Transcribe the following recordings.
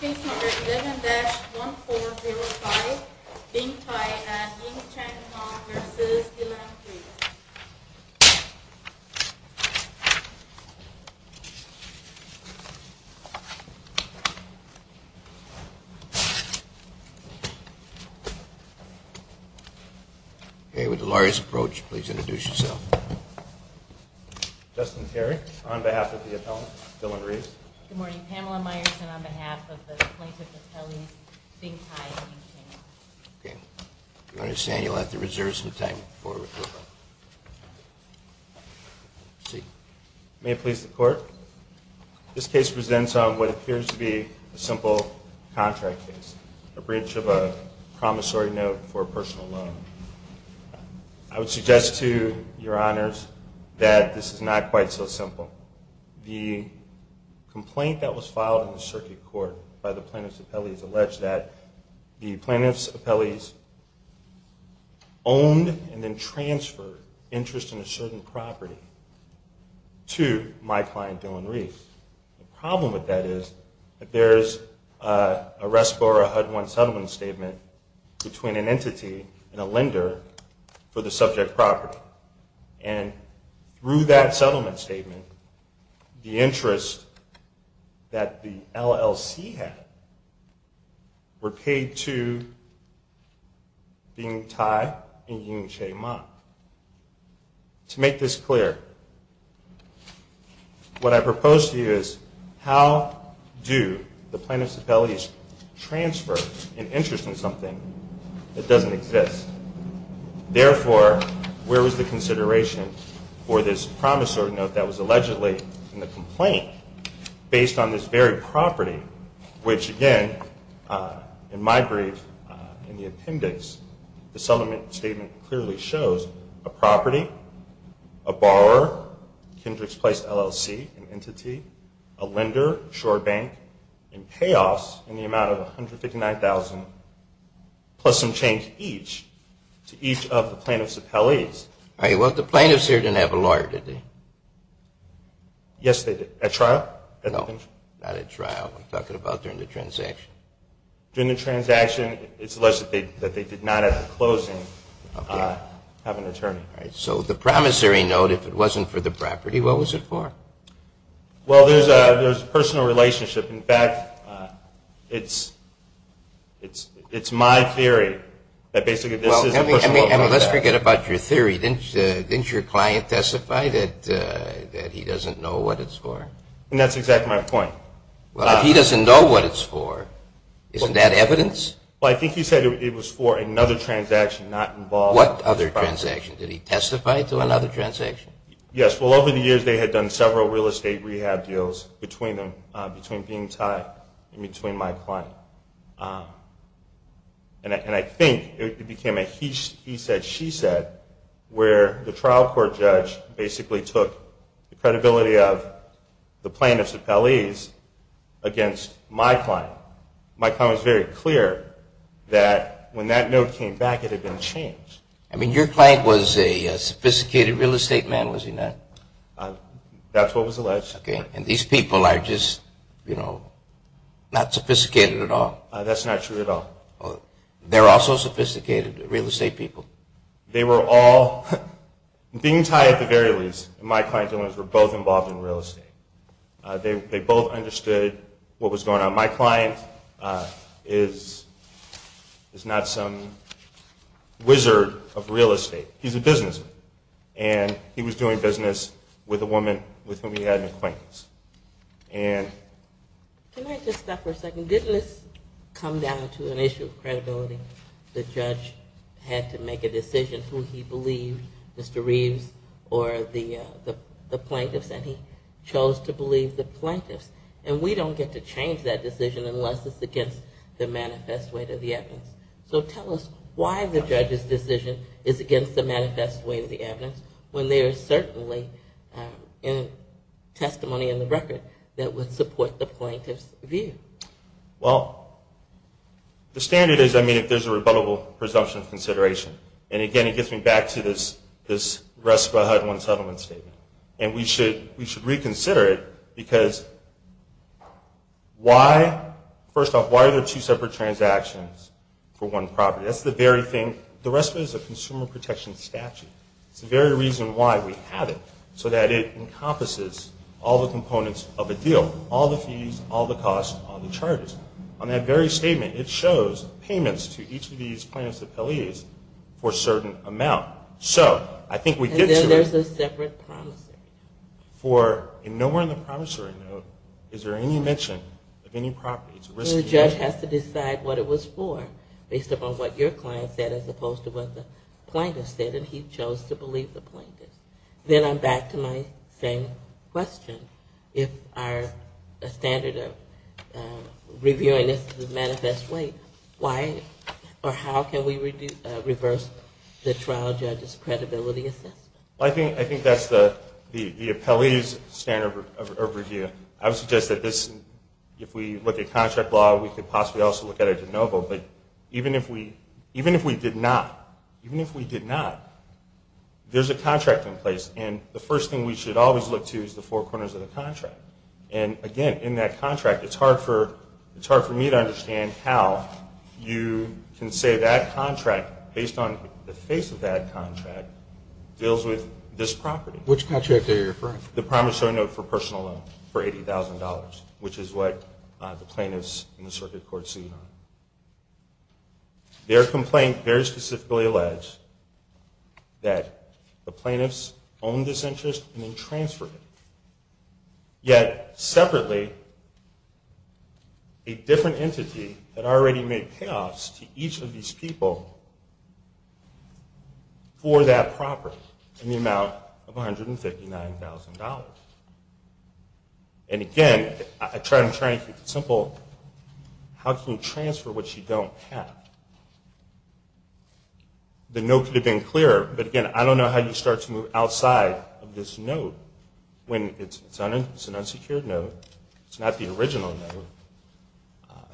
Case number 11-1405, Bing Tai and Ying Chang Hong v. Dylann Reeves Okay, with the lawyer's approach, please introduce yourself. Justin Terry, on behalf of the appellant, Dylann Reeves. Good morning. Pamela Meyerson, on behalf of the plaintiff, Appellee Bing Tai and Ying Chang Hong. Okay. I understand you'll have to reserve some time before we move on. May it please the court? This case presents on what appears to be a simple contract case. A breach of a promissory note for personal loan. I would suggest to your honors that this is not quite so simple. The complaint that was filed in the circuit court by the plaintiff's appellees alleged that the plaintiff's appellees owned and then transferred interest in a certain property to my client, Dylann Reeves. The problem with that is that there is a rest for a HUD-1 settlement statement between an entity and a lender for the subject property. And through that settlement statement, the interest that the LLC had were paid to Bing Tai and Ying Chang Hong. To make this clear, what I propose to you is how do the plaintiff's appellees transfer an interest in something that doesn't exist? Therefore, where was the consideration for this promissory note that was allegedly in the complaint based on this very property, which again, in my brief, in the appendix, the settlement statement clearly shows a property, a borrower, Kendrick's Place LLC, an entity, a lender, Shore Bank, and payoffs in the amount of $159,000 plus some change each to each of the plaintiff's appellees. All right. Well, the plaintiffs here didn't have a lawyer, did they? Yes, they did. At trial? No, not at trial. I'm talking about during the transaction. During the transaction, it's alleged that they did not at the closing have an attorney. All right. So the promissory note, if it wasn't for the property, what was it for? Well, there's a personal relationship. In fact, it's my theory that basically this is a personal relationship. Well, let's forget about your theory. Didn't your client testify that he doesn't know what it's for? And that's exactly my point. Well, if he doesn't know what it's for, isn't that evidence? Well, I think he said it was for another transaction, not involved in this property. What other transaction? Did he testify to another transaction? Yes. Well, over the years, they had done several real estate rehab deals between them, between being tied and between my client. And I think it became a he said, she said, where the trial court judge basically took the credibility of the plaintiff's appellees against my client. My client was very clear that when that note came back, it had been changed. I mean, your client was a sophisticated real estate man, was he not? That's what was alleged. And these people are just, you know, not sophisticated at all. That's not true at all. They're also sophisticated real estate people. They were all, being tied at the very least, my client and his were both involved in real estate. They both understood what was going on. My client is not some wizard of real estate. He's a businessman. And he was doing business with a woman with whom he had an acquaintance. Can I just stop for a second? Didn't this come down to an issue of credibility? The judge had to make a decision who he believed, Mr. Reeves or the plaintiffs, and he chose to believe the plaintiffs. And we don't get to change that decision unless it's against the manifest weight of the evidence. So tell us why the judge's decision is against the manifest weight of the evidence when there is certainly testimony in the record that would support the plaintiff's view. Well, the standard is, I mean, if there's a rebuttable presumption of consideration. And again, it gets me back to this rest but hide one settlement statement. And we should reconsider it because why? First off, why are there two separate transactions for one property? The rest of it is a consumer protection statute. It's the very reason why we have it. So that it encompasses all the components of a deal. All the fees, all the costs, all the charges. On that very statement, it shows payments to each of these plaintiffs' appellees for a certain amount. So I think we get to it. And then there's a separate promise. For nowhere in the promissory note is there any mention of any properties. So the judge has to decide what it was for based upon what your client said as opposed to what the plaintiffs said. And he chose to believe the plaintiffs. Then I'm back to my same question. If our standard of reviewing is the manifest weight, why or how can we reverse the trial judge's credibility assessment? I think that's the appellee's standard of review. I would suggest that if we look at contract law, we could possibly also look at a de novo. But even if we did not, even if we did not, there's a contract in place. And the first thing we should always look to is the four corners of the contract. And again, in that contract, it's hard for me to understand how you can say that contract, based on the face of that contract, deals with this property. Which contract are you referring to? The promissory note for personal loan for $80,000, which is what the plaintiffs in the circuit court sued on. Their complaint very specifically alleged that the plaintiffs owned this interest and then transferred it. Yet, separately, a different entity had already made payoffs to each of these people for that property in the amount of $159,000. And again, I'm trying to keep it simple. How can you transfer what you don't have? The note could have been clearer, but again, I don't know how you start to move outside of this note when it's an unsecured note. It's not the original note.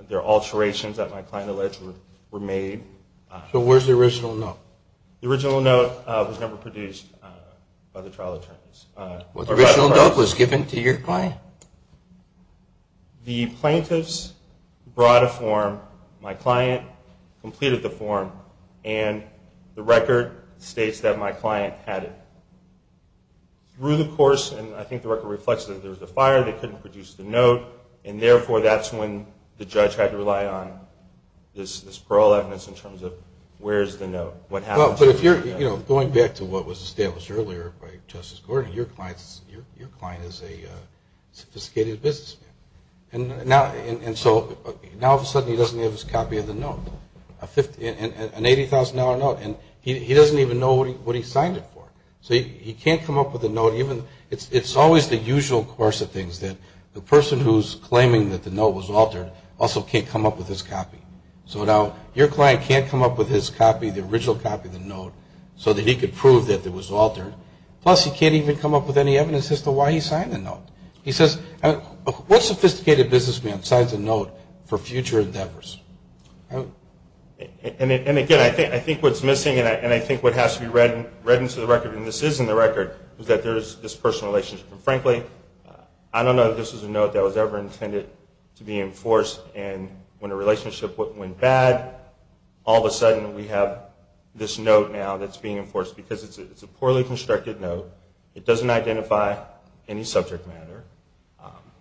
There are alterations that my client alleged were made. So where's the original note? The original note was never produced by the trial attorneys. Well, the original note was given to your client? The plaintiffs brought a form. My client completed the form, and the record states that my client had it. Through the course, and I think the record reflects that there was a fire, they couldn't produce the note, and therefore that's when the judge had to rely on this parole evidence in terms of where's the note? Going back to what was established earlier by Justice Gordon, your client is a sophisticated businessman. And so now all of a sudden he doesn't have his copy of the note, an $80,000 note. He doesn't even know what he signed it for. He can't come up with a note. It's always the usual course of things that the person who's claiming that the note was altered also can't come up with his copy. So now your client can't come up with his copy, the original copy of the note, so that he can prove that it was altered. Plus, he can't even come up with any evidence as to why he signed the note. He says, what sophisticated businessman signs a note for future endeavors? And again, I think what's missing, and I think what has to be read into the record, is that there's this personal relationship. And frankly, I don't know that this was a note that was ever intended to be enforced. And when a relationship went bad, all of a sudden we have this note now that's being enforced because it's a poorly constructed note. It doesn't identify any subject matter.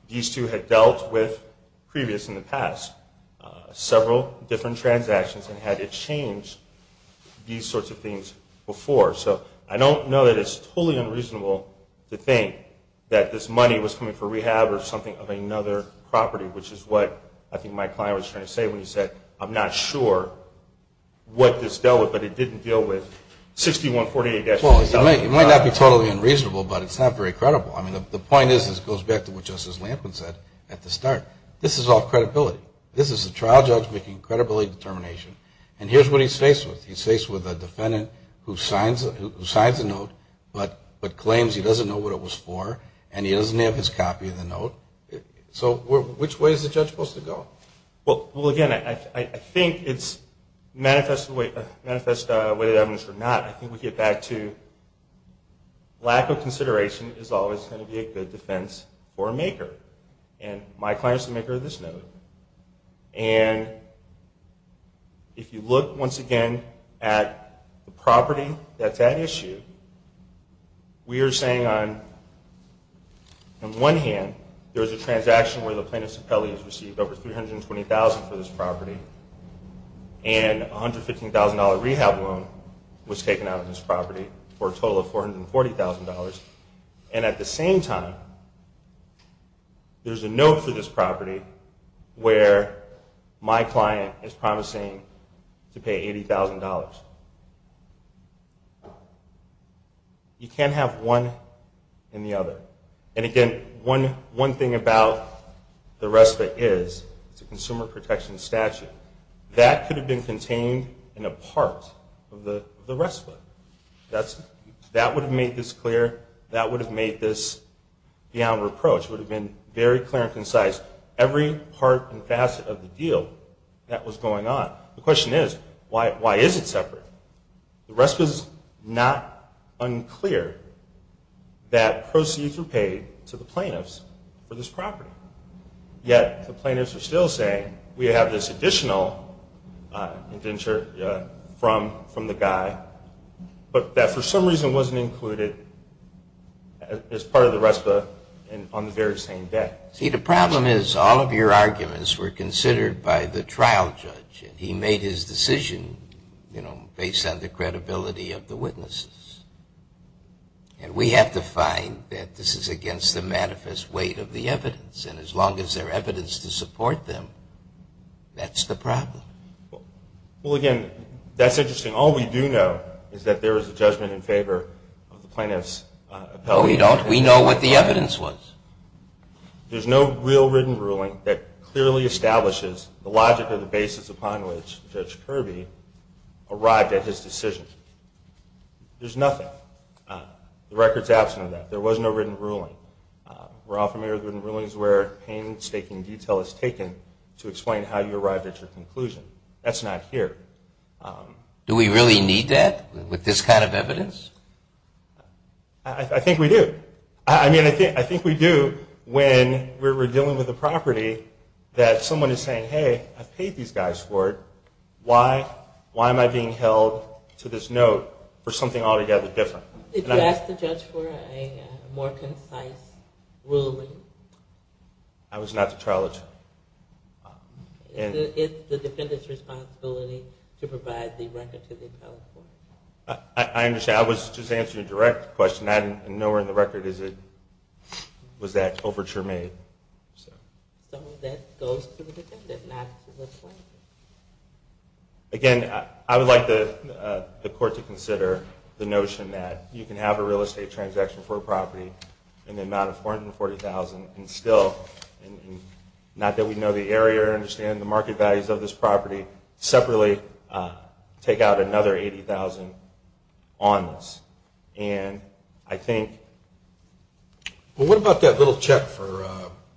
These two had dealt with, previous in the past, several different transactions and had to change these sorts of things before. So I don't know that it's totally unreasonable to think that this money was coming for rehab or something of another property, which is what I think my client was trying to say when he said, I'm not sure what this dealt with, but it didn't deal with 6148. Well, it might not be totally unreasonable, but it's not very credible. I mean, the point is, it goes back to what Justice Lampkin said at the start. This is all credibility. This is a trial judge making credibility determination. And here's what he's faced with. He's faced with a defendant who signs a note, but claims he doesn't know what it was for and he doesn't have his copy of the note. So which way is the judge supposed to go? Well, again, I think it's manifest whether evidence or not. I think we get back to lack of consideration is always going to be a good defense for a maker. And my client is the maker of this note. And if you look, once again, at the property that's at issue, we are saying on one hand, there's a transaction where the plaintiff's appellee has received over $320,000 for this property and a $115,000 rehab loan was taken out of this property for a total of $440,000. And at the same time, there's a note for this property where my client is promising to pay $80,000. You can't have one and the other. And again, one thing about the RESPA is it's a consumer protection statute. That could have been contained in a part of the RESPA. That would have made this clear. That would have made this beyond reproach. It would have been very clear and concise. Every part and facet of the deal that was going on. The question is, why is it separate? The RESPA is not unclear that proceeds were paid to the plaintiffs for this property. Yet, the plaintiffs are still saying, we have this additional indenture from the guy, but that for some reason wasn't included as part of the RESPA on the very same day. See, the problem is all of your arguments were considered by the trial judge. He made his decision based on the credibility of the witnesses. And we have to find that this is against the manifest weight of the evidence. And as long as there's evidence to support them, that's the problem. Well, again, that's interesting. All we do know is that there was a judgment in favor of the plaintiff's appellate. No, we don't. We know what the evidence was. There's no real written ruling that clearly establishes the logic of the basis upon which Judge Kirby arrived at his decision. There's nothing. The record's absent of that. There was no written ruling. We're all familiar with written rulings where painstaking detail is taken to explain how you arrived at your conclusion. That's not here. Do we really need that with this kind of evidence? I think we do. I mean, I think we do when we're dealing with a property that someone is saying, hey, I paid these guys for it. Why am I being held to this note for something altogether different? Did you ask the judge for a more concise ruling? I was not the trial attorney. It's the defendant's responsibility to provide the record to the appellate court. I understand. I was just answering a direct question. Nowhere in the record was that overture made. So that goes to the defendant, not to the plaintiff. Again, I would like the court to consider the notion that you can have a real estate transaction for a property in the amount of $440,000 and still, not that we know the area or understand the market values of this property, separately take out another $80,000 on this. And I think... Well, what about that little check for,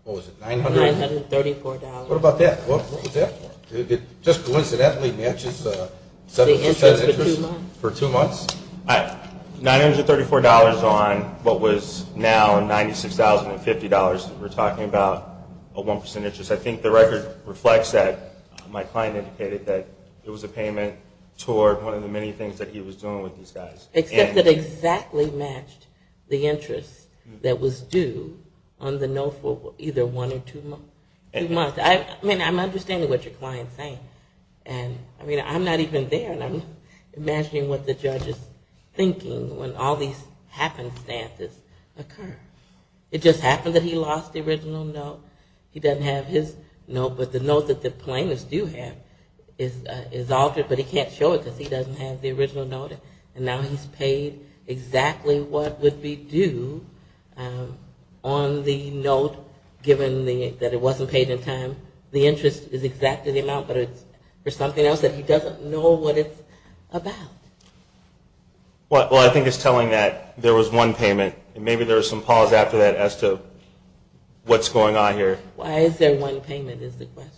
what was it, $900? $934. What about that? What was that for? It just coincidentally matches the 7% interest for two months. $934 on what was now $96,050 that we're talking about, a 1% interest. I think the record reflects that. My client indicated that it was a payment toward one of the many things that he was doing with these guys. Except it exactly matched the interest that was due on the note for either one or two months. I mean, I'm understanding what your client's saying. I mean, I'm not even there, and I'm imagining what the judge is thinking when all these happenstances occur. It just happened that he lost the original note. He doesn't have his note, but the note that the plaintiffs do have is altered, but he can't show it because he doesn't have the original note. And now he's paid exactly what would be due on the note, given that it wasn't paid in time. The interest is exactly the amount, but it's for something else that he doesn't know what it's about. Well, I think it's telling that there was one payment, and maybe there was some pause after that as to what's going on here. Why is there one payment is the question.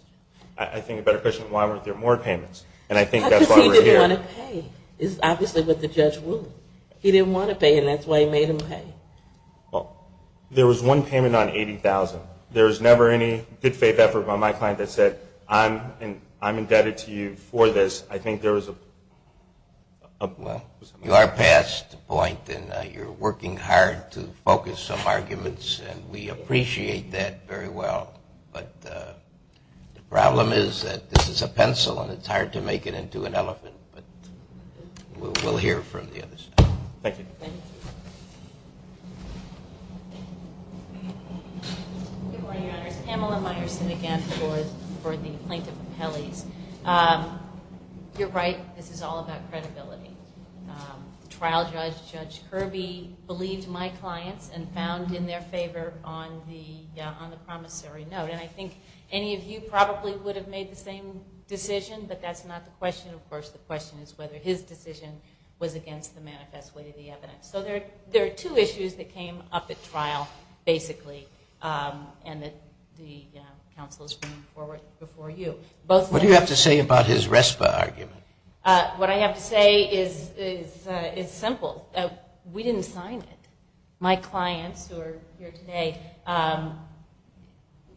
I think a better question is why weren't there more payments, and I think that's why we're here. He didn't want to pay. It's obviously what the judge ruled. He didn't want to pay, and that's why he made him pay. Well, there was one payment on $80,000. There was never any good faith effort by my client that said, I'm indebted to you for this. I think there was a... Well, you are past the point, and you're working hard to focus some arguments, and we appreciate that very well. But the problem is that this is a pencil, and it's hard to make it into an elephant, but we'll hear from the other side. Thank you. Thank you. Good morning, Your Honors. Pamela Meyerson again for the Plaintiff Appellees. You're right. This is all about credibility. The trial judge, Judge Kirby, believed my clients and found in their favor on the promissory note. And I think any of you probably would have made the same decision, but that's not the question. Of course, the question is whether his decision was against the manifest way of the evidence. So there are two issues that came up at trial, basically, and that the counsel is bringing forward before you. What do you have to say about his RESPA argument? What I have to say is simple. We didn't sign it. My clients who are here today,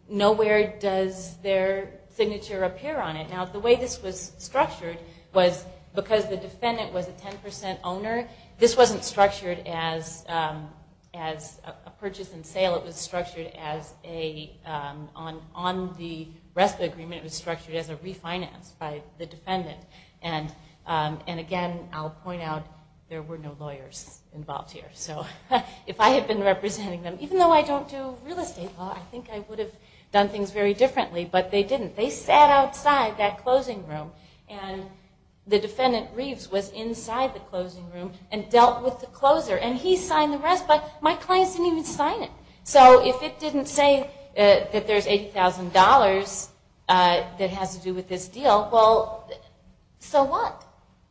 nowhere does their signature appear on it. Now, the way this was structured was because the defendant was a 10% owner, this wasn't structured as a purchase and sale. It was structured as a... On the RESPA agreement, it was structured as a refinance by the defendant. And again, I'll point out, there were no lawyers involved here. So if I had been representing them, even though I don't do real estate law, I think I would have done things very differently, but they didn't. They sat outside that closing room, and the defendant Reeves was inside the closing room and dealt with the closer. And he signed the RESPA, my clients didn't even sign it. So if it didn't say that there's $80,000 that has to do with this deal, well, so what?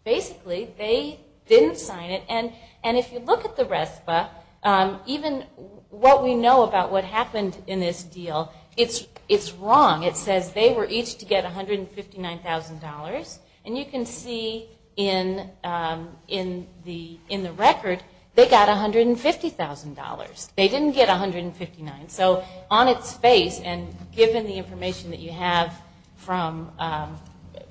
Basically, they didn't sign it. And if you look at the RESPA, even what we know about what happened in this deal, it's wrong. It says they were each to get $159,000. And you can see in the record, they got $150,000. They didn't get $159,000. So on its face, and given the information that you have from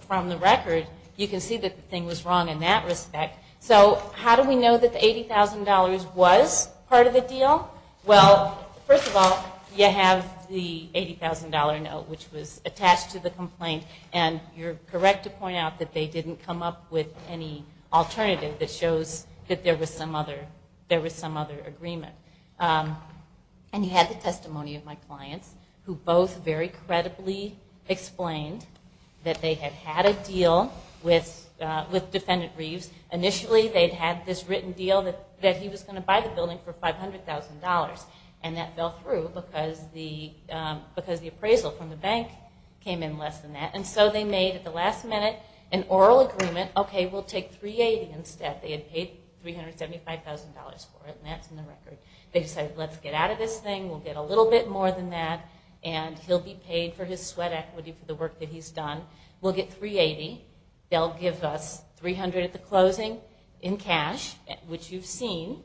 the record, you can see that the thing was wrong in that respect. So how do we know that the $80,000 was part of the deal? Well, first of all, you have the $80,000 note, which was attached to the complaint. And you're correct to point out that they didn't come up with any alternative that shows that there was some other agreement. And you have the testimony of my clients, who both very credibly explained that they had had a deal with Defendant Reeves. Initially, they'd had this written deal that he was going to buy the building for $500,000. And that fell through because the appraisal from the bank came in less than that. And so they made, at the last minute, an oral agreement, okay, we'll take $380,000 instead. They had paid $375,000 for it, and that's in the record. They decided, let's get out of this thing, we'll get a little bit more than that, and he'll be paid for his sweat equity for the work that he's done. We'll get $380,000. They'll give us $300,000 at the closing, in cash, which you've seen.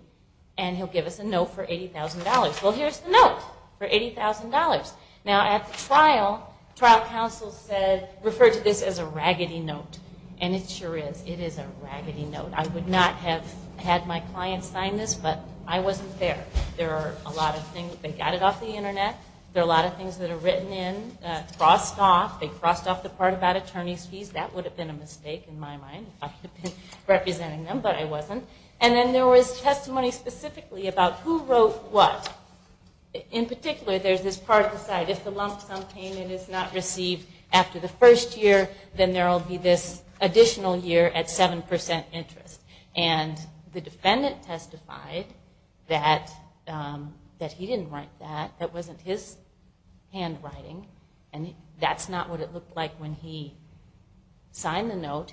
And he'll give us a note for $80,000. Well, here's the note for $80,000. Now, at the trial, trial counsel said, referred to this as a raggedy note. And it sure is. It is a raggedy note. I would not have had my client sign this, but I wasn't there. There are a lot of things. They got it off the internet. There are a lot of things that are written in, crossed off. They crossed off the part about attorney's fees. That would have been a mistake, in my mind, if I had been representing them, but I wasn't. And then there was testimony specifically about who wrote what. In particular, there's this part of the site, if the lump sum payment is not received after the first year, then there will be this additional year at 7% interest. And the defendant testified that he didn't write that. That wasn't his handwriting. And that's not what it looked like when he signed the note.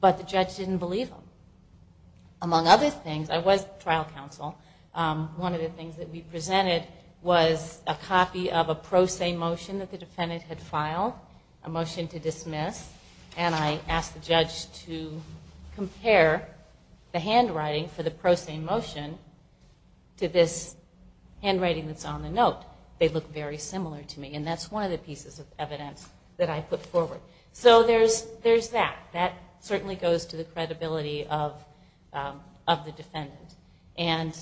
But the judge didn't believe him. Among other things, I was trial counsel. One of the things that we presented was a copy of a pro se motion that the defendant had filed. A motion to dismiss. And I asked the judge to compare the handwriting for the pro se motion to this handwriting that's on the note. They look very similar to me. And that's one of the pieces of evidence that I put forward. So there's that. That certainly goes to the credibility of the defendant. And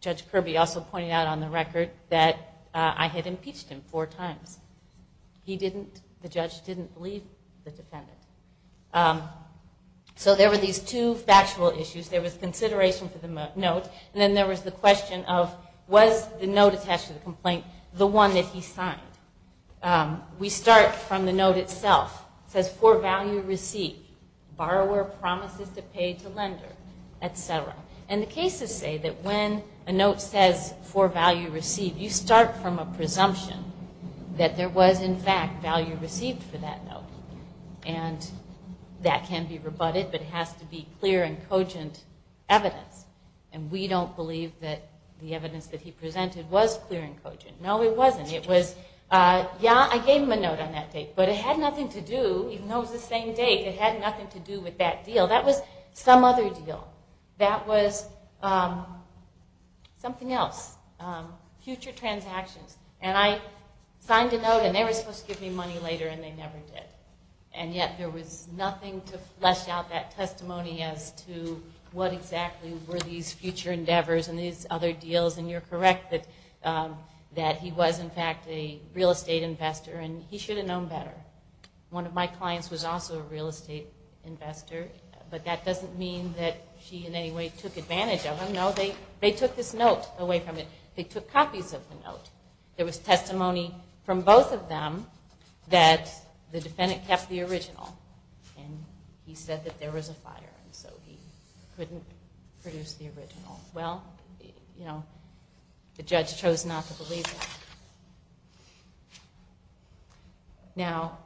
Judge Kirby also pointed out on the record that I had impeached him four times. He didn't, the judge didn't believe the defendant. So there were these two factual issues. There was consideration for the note. And then there was the question of was the note attached to the complaint the one that he signed. We start from the note itself. It says for value received. Borrower promises to pay to lender, et cetera. And the cases say that when a note says for value received, you start from a presumption that there was in fact value received for that note. And that can be rebutted, but it has to be clear and cogent evidence. And we don't believe that the evidence that he presented was clear and cogent. No, it wasn't. It was, yeah, I gave him a note on that date, but it had nothing to do, even though it was the same date, it had nothing to do with that deal. That was some other deal. That was something else. Future transactions. And I signed a note and they were supposed to give me money later and they never did. And yet there was nothing to flesh out that testimony as to what exactly were these future endeavors and these other deals, and you're correct that he was in fact a real estate investor and he should have known better. One of my clients was also a real estate investor, but that doesn't mean that she in any way took advantage of him. No, they took this note away from him. They took copies of the note. There was testimony from both of them that the defendant kept the original and he said that there was a fire and so he couldn't produce the original. Well, you know, the judge chose not to believe that. Now,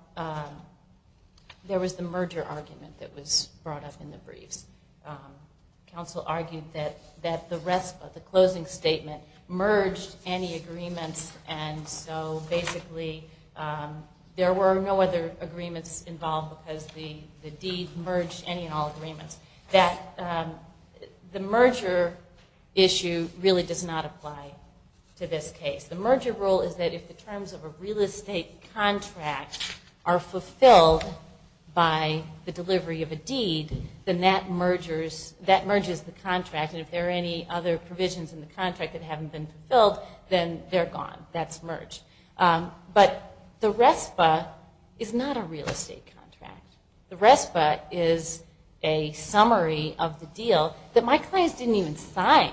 there was the merger argument that was brought up in the briefs. Counsel argued that the RESPA, the closing statement, merged any agreements and so basically there were no other agreements involved because the deed merged any and all agreements. The merger issue really does not apply to this case. The merger rule is that if the terms of a real estate contract are fulfilled by the delivery of a deed, then that merges the contract and if there are any other provisions in the contract that haven't been fulfilled, then they're gone. That's merged. But the RESPA is not a real estate contract. The RESPA is a summary of the deal that my clients didn't even sign.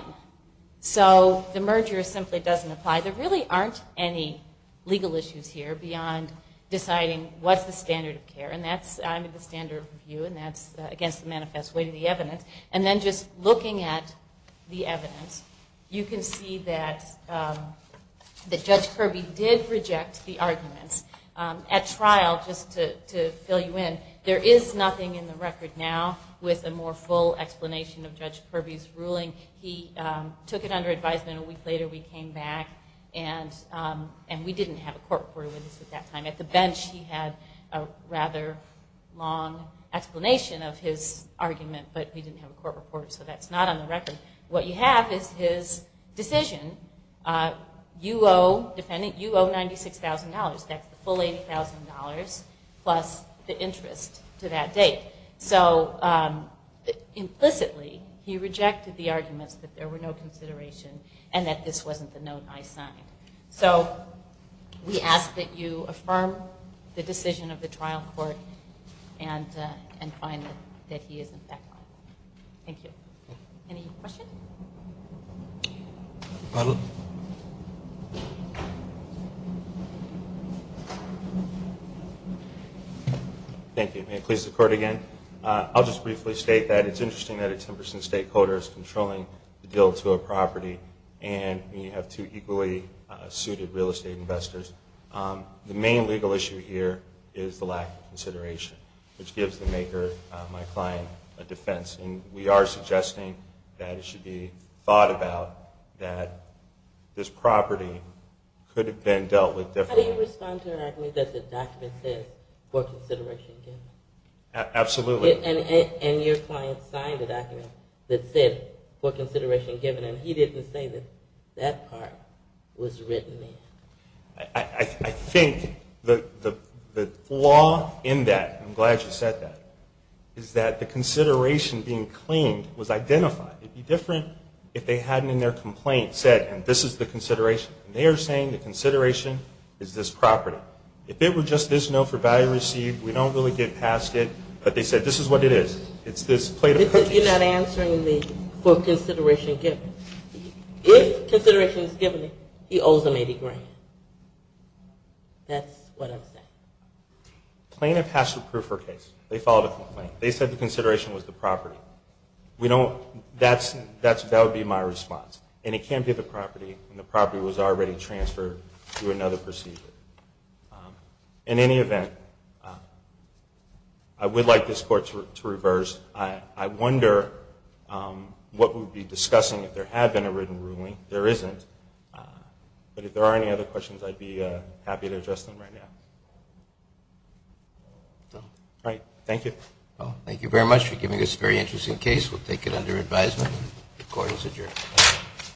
So the merger simply doesn't apply. There really aren't any legal issues here beyond deciding what's the standard of care and that's, I mean, the standard of review and that's against the manifest way to the evidence. And then just looking at the evidence, you can see that Judge Kirby did reject the arguments. At trial, just to fill you in, there is nothing in the record now with a more full explanation of Judge Kirby's ruling. He took it under advisement. A week later we came back and we didn't have a court report with us at that time. At the bench he had a rather long explanation of his argument but we didn't have a court report so that's not on the record. What you have is his decision. You owe, defendant, you owe $96,000. That's the full $80,000 plus the interest to that date. So implicitly he rejected the arguments that there were no consideration and that this wasn't the note I signed. So we ask that you affirm the decision of the trial court and find that he isn't that wrong. Thank you. Any questions? Thank you. May it please the court again. I'll just briefly state that it's interesting that a 10% stakeholder is controlling the deal to a property and you have two equally suited real estate investors. The main legal issue here is the lack of consideration which gives the maker, my client, a defense. And we are suggesting that it should be thought about that this property could have been dealt with differently. How do you respond to an argument that the document says for consideration given? Absolutely. And your client signed the document that said for consideration given. And he didn't say that that part was written in. I think the flaw in that, I'm glad you said that, is that the consideration being claimed was identified. It would be different if they hadn't in their complaint said this is the consideration. They are saying the consideration is this property. If it were just this note for value received, we don't really get past it. But they said this is what it is. It's this plate of cookies. You're not answering me for consideration given. If consideration is given, he owes them 80 grand. That's what I'm saying. Plaintiff has to prove her case. They filed a complaint. They said the consideration was the property. That would be my response. And it can't be the property when the property was already transferred through another procedure. In any event, I would like this court to reverse. I wonder what we would be discussing if there had been a written ruling. There isn't. But if there are any other questions, I'd be happy to address them right now. All right. Thank you. Thank you very much for giving us a very interesting case. We'll take it under advisement. The court is adjourned.